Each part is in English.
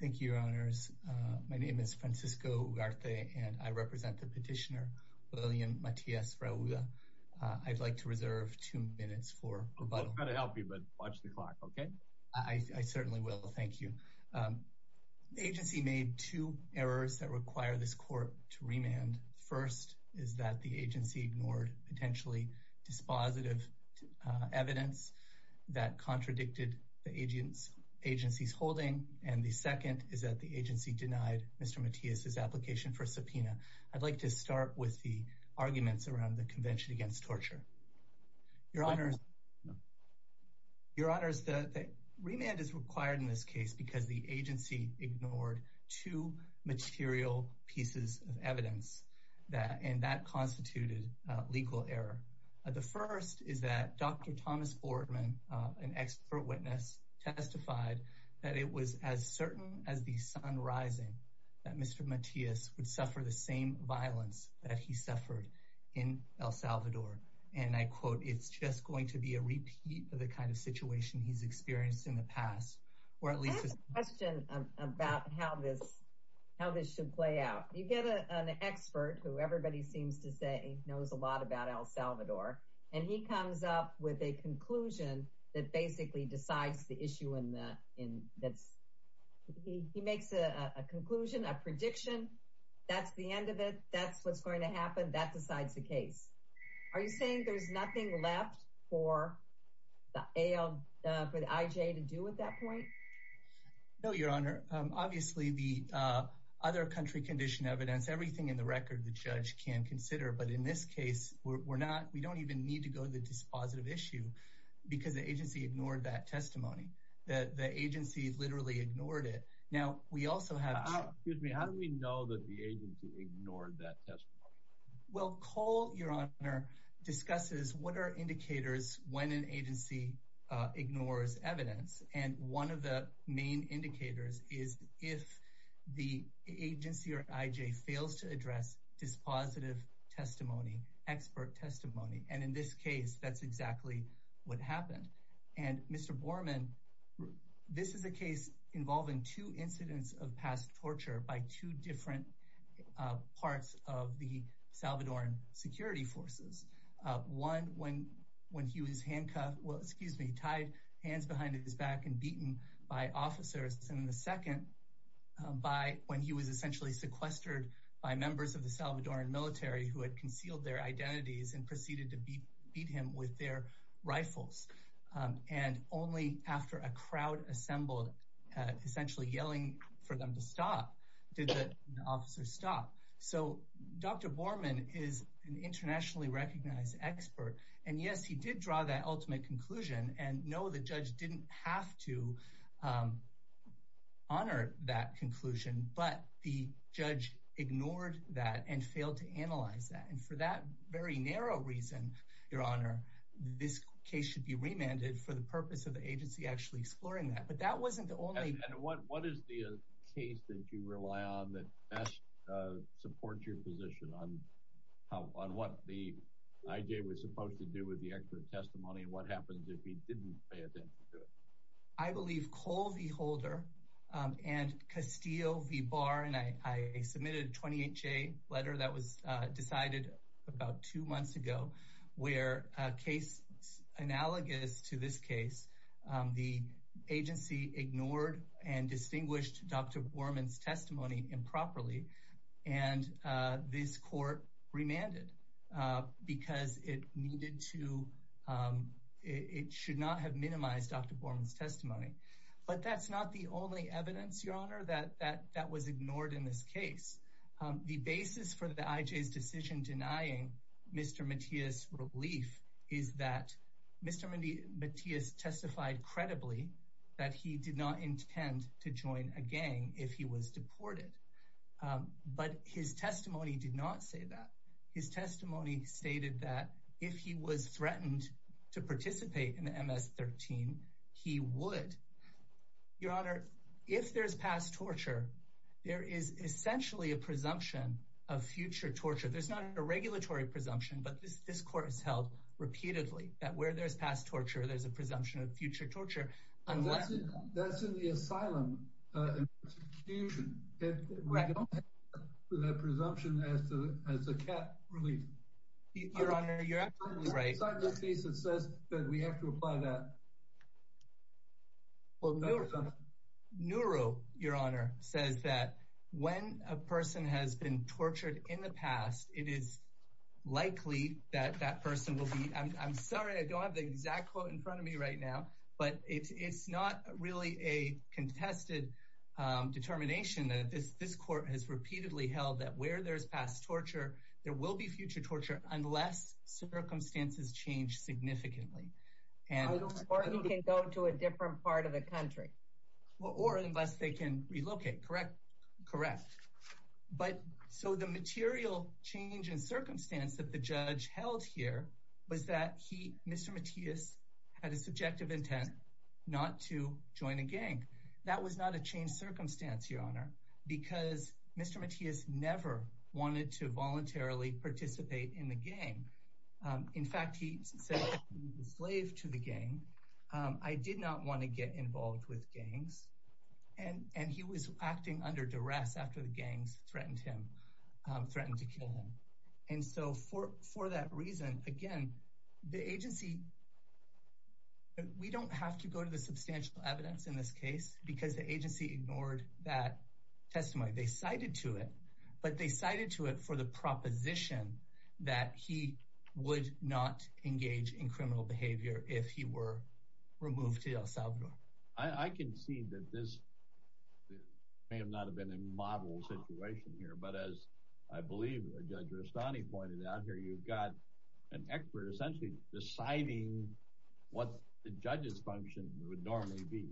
Thank you, Your Honors. My name is Francisco Ugarte, and I represent the petitioner William Matias Rauda. I'd like to reserve two minutes for rebuttal. I'm going to help you, but watch the clock, okay? I certainly will. Thank you. The agency made two errors that require this court to remand. First is that the agency ignored potentially dispositive evidence that contradicted the agency's holding. And the second is that the agency denied Mr. Matias' application for subpoena. I'd like to start with the arguments around the Convention Against Torture. Your Honors, the remand is required in this case because the agency ignored two material pieces of evidence, and that constituted legal error. The first is that Dr. Thomas Fordman, an expert witness, testified that it was as certain as the sun rising that Mr. Matias would suffer the same violence that he suffered in El Salvador. And I quote, it's just going to be a repeat of the kind of situation he's experienced in the past. I have a question about how this should play out. You get an expert who everybody seems to say knows a lot about El Salvador, and he comes up with a conclusion that basically decides the issue. He makes a conclusion, a prediction, that's the end of it, that's what's going to happen, that decides the case. Are you saying there's nothing left for the IJ to do at that point? No, Your Honor. Obviously, the other country condition evidence, everything in the record, the judge can consider. But in this case, we don't even need to go to the dispositive issue because the agency ignored that testimony. The agency literally ignored it. Now, we also have... Excuse me, how do we know that the agency ignored that testimony? Well, Cole, Your Honor, discusses what are indicators when an agency ignores evidence. And one of the main indicators is if the agency or IJ fails to address dispositive testimony, expert testimony. And in this case, that's exactly what happened. And Mr. Borman, this is a case involving two incidents of past torture by two different parts of the Salvadoran security forces. One, when he was handcuffed, well, excuse me, tied hands behind his back and beaten by officers. And the second, when he was essentially sequestered by members of the Salvadoran military who had concealed their identities and proceeded to beat him with their rifles. And only after a crowd assembled, essentially yelling for them to stop, did the officers stop. So Dr. Borman is an internationally recognized expert. And yes, he did draw that ultimate conclusion. And no, the judge didn't have to honor that conclusion. But the judge ignored that and failed to analyze that. And for that very narrow reason, Your Honor, this case should be remanded for the purpose of the agency actually exploring that. But that wasn't the only... that you rely on that best supports your position on what the IJ was supposed to do with the expert testimony and what happens if he didn't pay attention to it. I believe Cole V. Holder and Castillo V. Barr, and I submitted a 28-J letter that was decided about two months ago, where a case analogous to this case, the agency ignored and distinguished Dr. Borman's testimony improperly. And this court remanded because it needed to... it should not have minimized Dr. Borman's testimony. But that's not the only evidence, Your Honor, that was ignored in this case. The basis for the IJ's decision denying Mr. Matias relief is that Mr. Matias testified credibly that he did not intend to join a gang if he was deported. But his testimony did not say that. His testimony stated that if he was threatened to participate in the MS-13, he would. Your Honor, if there's past torture, there is essentially a presumption of future torture. There's not a regulatory presumption, but this court has held repeatedly that where there's past torture, there's a presumption of future torture. That's in the asylum institution. We don't have that presumption as a cap relief. Your Honor, you're absolutely right. It's not in this case that says that we have to apply that presumption. Nuru, Your Honor, says that when a person has been tortured in the past, it is likely that that person will be... I'm sorry, I don't have the exact quote in front of me right now, but it's not really a contested determination. This court has repeatedly held that where there's past torture, there will be future torture unless circumstances change significantly. Or he can go to a different part of the country. Or unless they can relocate, correct? Correct. But so the material change in circumstance that the judge held here was that Mr. Matias had a subjective intent not to join a gang. That was not a changed circumstance, Your Honor, because Mr. Matias never wanted to voluntarily participate in the gang. In fact, he said he was a slave to the gang. I did not want to get involved with gangs. And he was acting under duress after the gangs threatened him, threatened to kill him. And so for that reason, again, the agency... We don't have to go to the substantial evidence in this case because the agency ignored that testimony. They cited to it, but they cited to it for the proposition that he would not engage in criminal behavior if he were removed to El Salvador. I can see that this may not have been a model situation here, but as I believe Judge Rustani pointed out here, you've got an expert essentially deciding what the judge's function would normally be,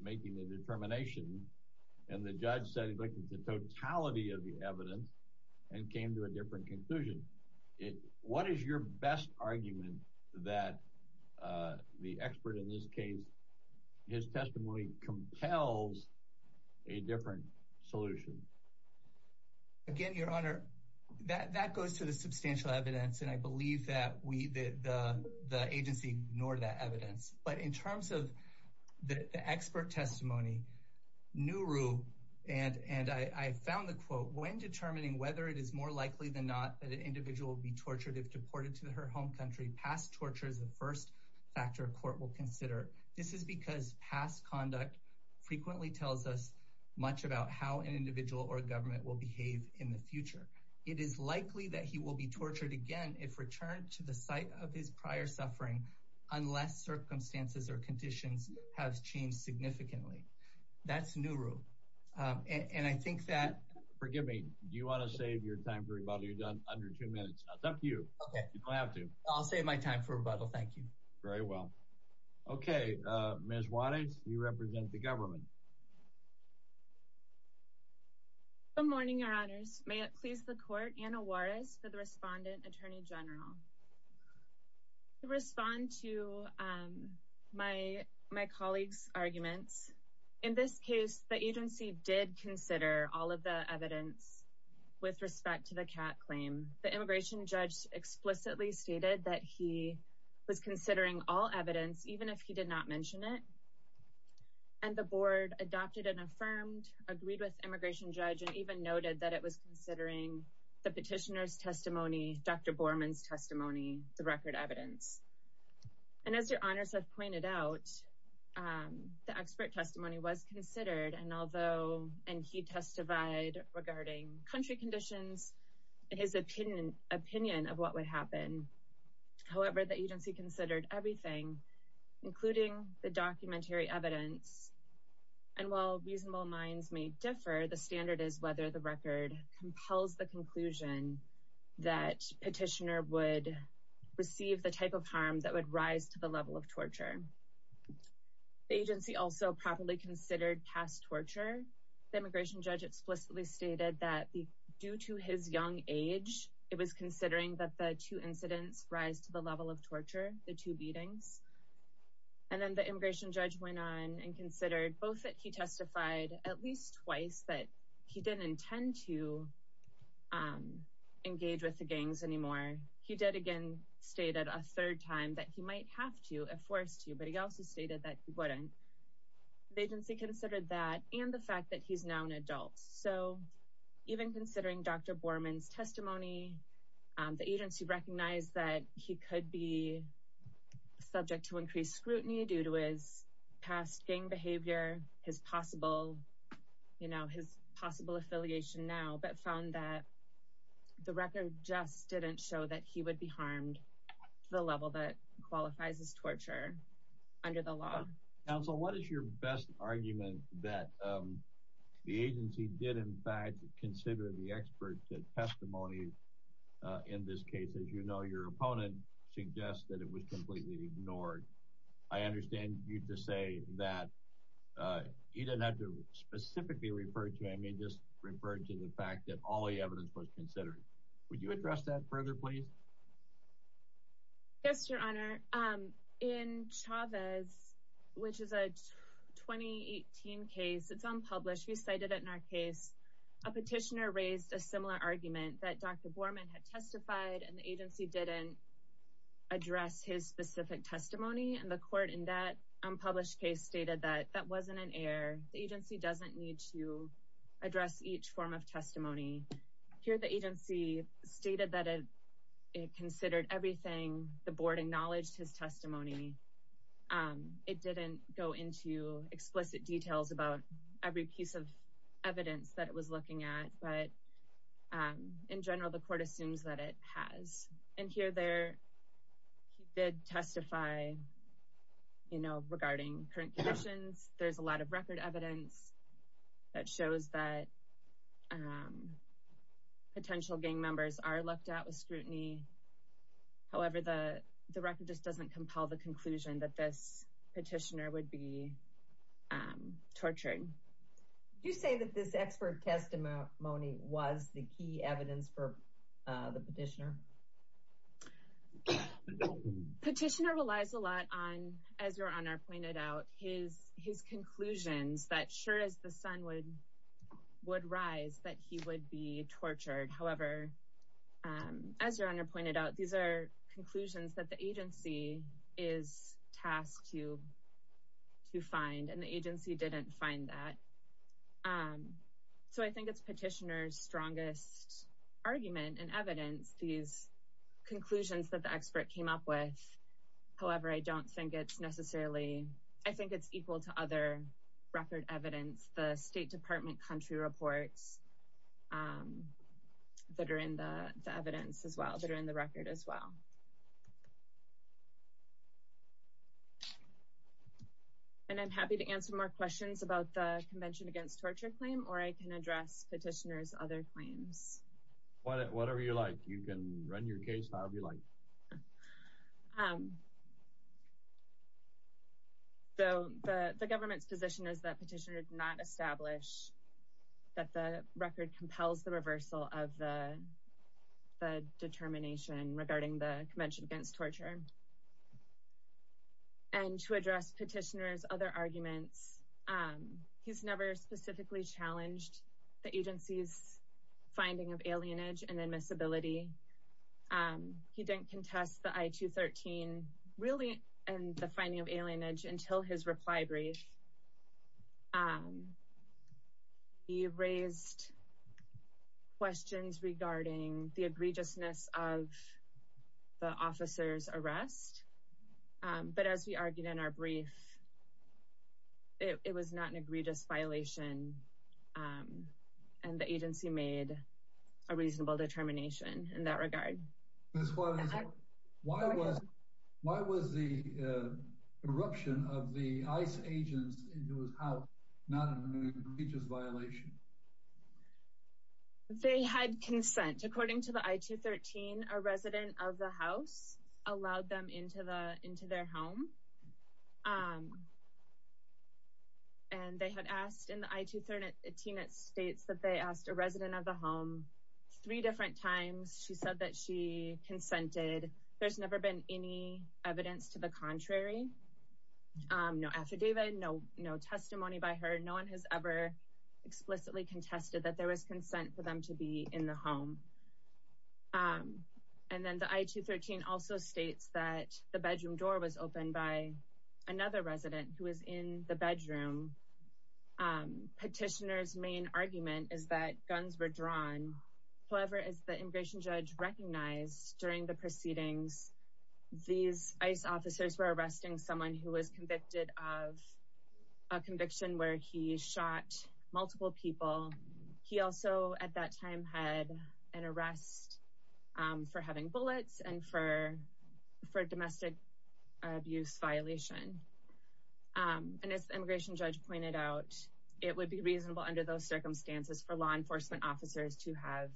making a determination. And the judge said he'd look at the totality of the evidence and came to a different conclusion. What is your best argument that the expert in this case, his testimony compels a different solution? Again, Your Honor, that goes to the substantial evidence, and I believe that the agency ignored that evidence. But in terms of the expert testimony, Nuru and I found the quote, when determining whether it is more likely than not that an individual will be tortured if deported to her home country, past torture is the first factor a court will consider. This is because past conduct frequently tells us much about how an individual or government will behave in the future. It is likely that he will be tortured again if returned to the site of his prior suffering, unless circumstances or conditions have changed significantly. That's Nuru. And I think that... Forgive me. Do you want to save your time for rebuttal? You're done under two minutes. It's up to you. You don't have to. I'll save my time for rebuttal. Thank you. Very well. Okay. Ms. Juarez, you represent the government. Good morning, Your Honors. May it please the Court, Anna Juarez for the Respondent Attorney General. To respond to my colleague's arguments, in this case, the agency did consider all of the evidence with respect to the CAT claim. The immigration judge explicitly stated that he was considering all evidence, even if he did not mention it. And the Board adopted and affirmed, agreed with the immigration judge, and even noted that it was considering the petitioner's testimony, Dr. Borman's testimony, the record evidence. And as Your Honors have pointed out, the expert testimony was considered, and he testified regarding country conditions and his opinion of what would happen. However, the agency considered everything, including the documentary evidence. And while reasonable minds may differ, the standard is whether the record compels the conclusion that petitioner would receive the type of harm that would rise to the level of torture. The agency also properly considered past torture. The immigration judge explicitly stated that due to his young age, it was considering that the two incidents rise to the level of torture, the two beatings. And then the immigration judge went on and considered both that he testified at least twice that he didn't intend to engage with the gangs anymore. He did, again, state a third time that he might have to if forced to, but he also stated that he wouldn't. The agency considered that and the fact that he's now an adult. So even considering Dr. Borman's testimony, the agency recognized that he could be subject to increased scrutiny due to his past gang behavior, his possible, you know, his possible affiliation now, but found that the record just didn't show that he would be harmed to the level that qualifies as torture under the law. Counsel, what is your best argument that the agency did, in fact, consider the expert testimony in this case? As you know, your opponent suggests that it was completely ignored. I understand you to say that you didn't have to specifically refer to him. He just referred to the fact that all the evidence was considered. Would you address that further, please? Yes, Your Honor. In Chavez, which is a 2018 case, it's unpublished. We cited it in our case. A petitioner raised a similar argument that Dr. Borman had testified and the agency didn't address his specific testimony. And the court in that unpublished case stated that that wasn't an error. The agency doesn't need to address each form of testimony here. The agency stated that it considered everything. The board acknowledged his testimony. It didn't go into explicit details about every piece of evidence that it was looking at. But in general, the court assumes that it has. And here there, he did testify, you know, regarding current conditions. There's a lot of record evidence that shows that potential gang members are looked at with scrutiny. However, the record just doesn't compel the conclusion that this petitioner would be tortured. You say that this expert testimony was the key evidence for the petitioner? Petitioner relies a lot on, as Your Honor pointed out, his conclusions that sure as the sun would rise, that he would be tortured. However, as Your Honor pointed out, these are conclusions that the agency is tasked to find, and the agency didn't find that. So I think it's petitioner's strongest argument and evidence, these conclusions that the expert came up with. However, I don't think it's necessarily, I think it's equal to other record evidence. The State Department country reports that are in the evidence as well, that are in the record as well. And I'm happy to answer more questions about the Convention Against Torture claim, or I can address petitioner's other claims. Whatever you like. You can run your case however you like. The government's position is that petitioner did not establish that the record compels the reversal of the determination regarding the Convention Against Torture. And to address petitioner's other arguments, he's never specifically challenged the agency's finding of alienage and admissibility. He didn't contest the I-213, really, and the finding of alienage until his reply brief. He raised questions regarding the egregiousness of the officer's arrest. But as we argued in our brief, it was not an egregious violation, and the agency made a reasonable determination in that regard. Why was the eruption of the ICE agents into his house not an egregious violation? They had consent. According to the I-213, a resident of the house allowed them into their home. And they had asked in the I-213, it states that they asked a resident of the home three different times. She said that she consented. There's never been any evidence to the contrary. No affidavit, no testimony by her. No one has ever explicitly contested that there was consent for them to be in the home. And then the I-213 also states that the bedroom door was opened by another resident who was in the bedroom. Petitioner's main argument is that guns were drawn. However, as the immigration judge recognized during the proceedings, these ICE officers were arresting someone who was convicted of a conviction where he shot multiple people. He also at that time had an arrest for having bullets and for domestic abuse violation. And as the immigration judge pointed out, it would be reasonable under those circumstances for law enforcement officers to have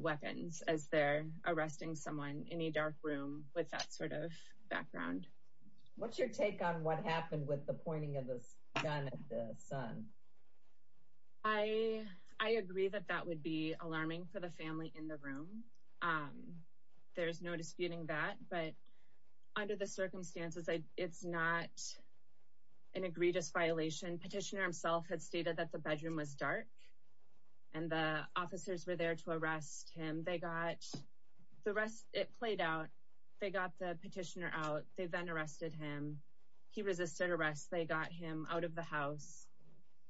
weapons as they're arresting someone in a dark room with that sort of background. What's your take on what happened with the pointing of the gun at the son? I agree that that would be alarming for the family in the room. There's no disputing that. But under the circumstances, it's not an egregious violation. Petitioner himself had stated that the bedroom was dark and the officers were there to arrest him. They got the rest. It played out. They got the petitioner out. They then arrested him. He resisted arrest. They got him out of the house.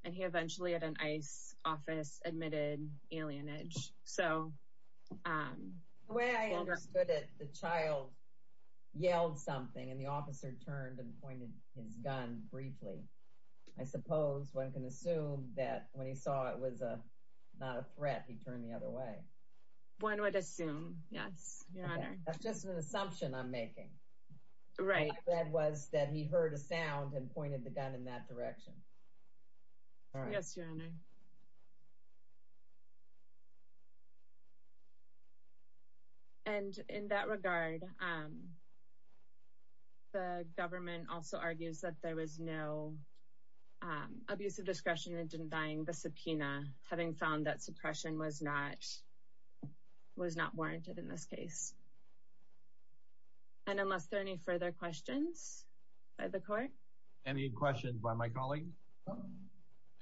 And he eventually, at an ICE office, admitted alienage. The way I understood it, the child yelled something and the officer turned and pointed his gun briefly. I suppose one can assume that when he saw it was not a threat, he turned the other way. One would assume, yes, Your Honor. That's just an assumption I'm making. What I read was that he heard a sound and pointed the gun in that direction. Yes, Your Honor. And in that regard, the government also argues that there was no abuse of discretion in denying the subpoena, having found that suppression was not warranted in this case. And unless there are any further questions by the court? Any questions by my colleague?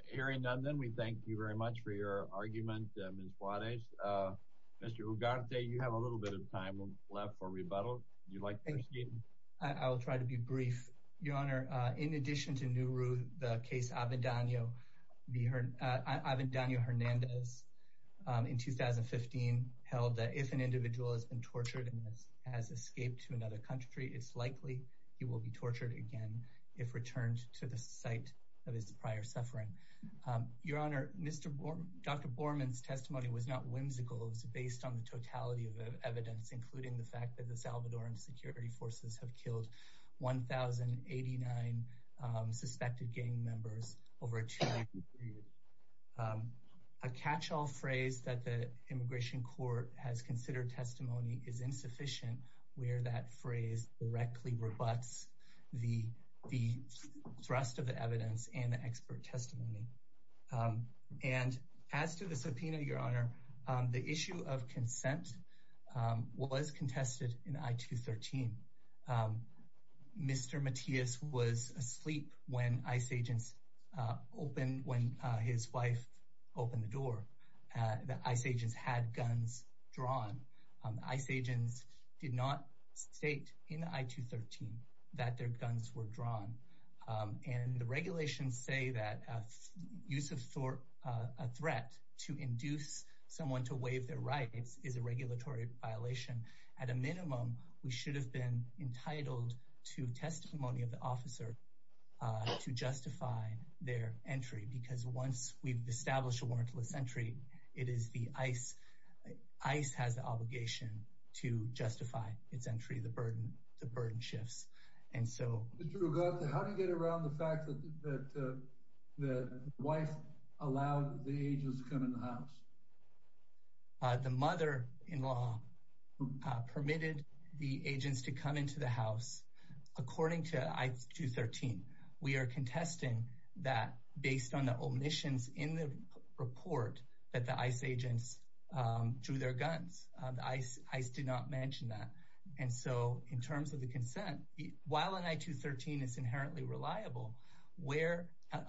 Hearing none, then we thank you very much for your argument, Ms. Juarez. Mr. Ugarte, you have a little bit of time left for rebuttal. Would you like to proceed? I will try to be brief. Your Honor, in addition to Nuru, the case Abindanyo-Hernandez in 2015 held that if an individual has been tortured and has escaped to another country, it's likely he will be tortured again if returned to the site of his prior suffering. Your Honor, Dr. Borman's testimony was not whimsical. It was based on the totality of evidence, including the fact that the Salvadoran security forces have killed 1,089 suspected gang members over a two-week period. A catch-all phrase that the immigration court has considered testimony is insufficient where that phrase directly rebuts the thrust of the evidence and the expert testimony. As to the subpoena, Your Honor, the issue of consent was contested in I-213. Mr. Matias was asleep when his wife opened the door. The ICE agents had guns drawn. The ICE agents did not state in I-213 that their guns were drawn. The regulations say that use of a threat to induce someone to waive their rights is a regulatory violation. At a minimum, we should have been entitled to testimony of the officer to justify their entry because once we've established a warrantless entry, ICE has the obligation to justify its entry. The burden shifts. How did you get around the fact that the wife allowed the agents to come into the house? The mother-in-law permitted the agents to come into the house. According to I-213, we are contesting that based on the omissions in the report that the ICE agents drew their guns. The ICE did not mention that. In terms of the consent, while I-213 is inherently reliable,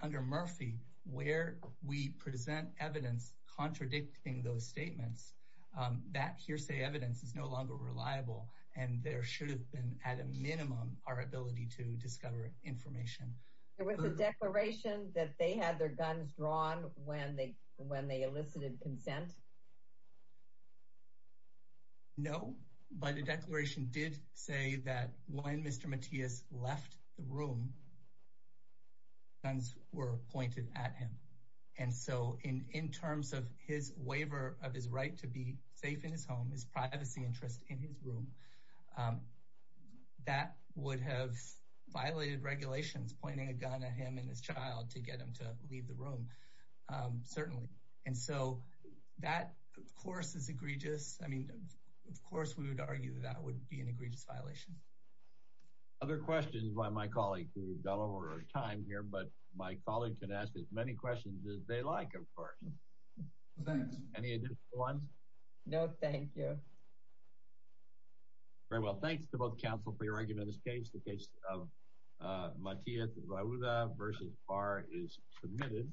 under Murphy, where we present evidence contradicting those statements, that hearsay evidence is no longer reliable. There should have been, at a minimum, our ability to discover information. There was a declaration that they had their guns drawn when they elicited consent? No, but the declaration did say that when Mr. Matias left the room, guns were pointed at him. In terms of his waiver of his right to be safe in his home, his privacy interest in his room, that would have violated regulations pointing a gun at him and his child to get him to leave the room, certainly. And so, that, of course, is egregious. I mean, of course we would argue that would be an egregious violation. Other questions by my colleague? We've gone over our time here, but my colleague can ask as many questions as they like, of course. Thanks. Any additional ones? No, thank you. Very well, thanks to both counsel for your argument in this case. The case of Matias Vahouda v. Barr is submitted.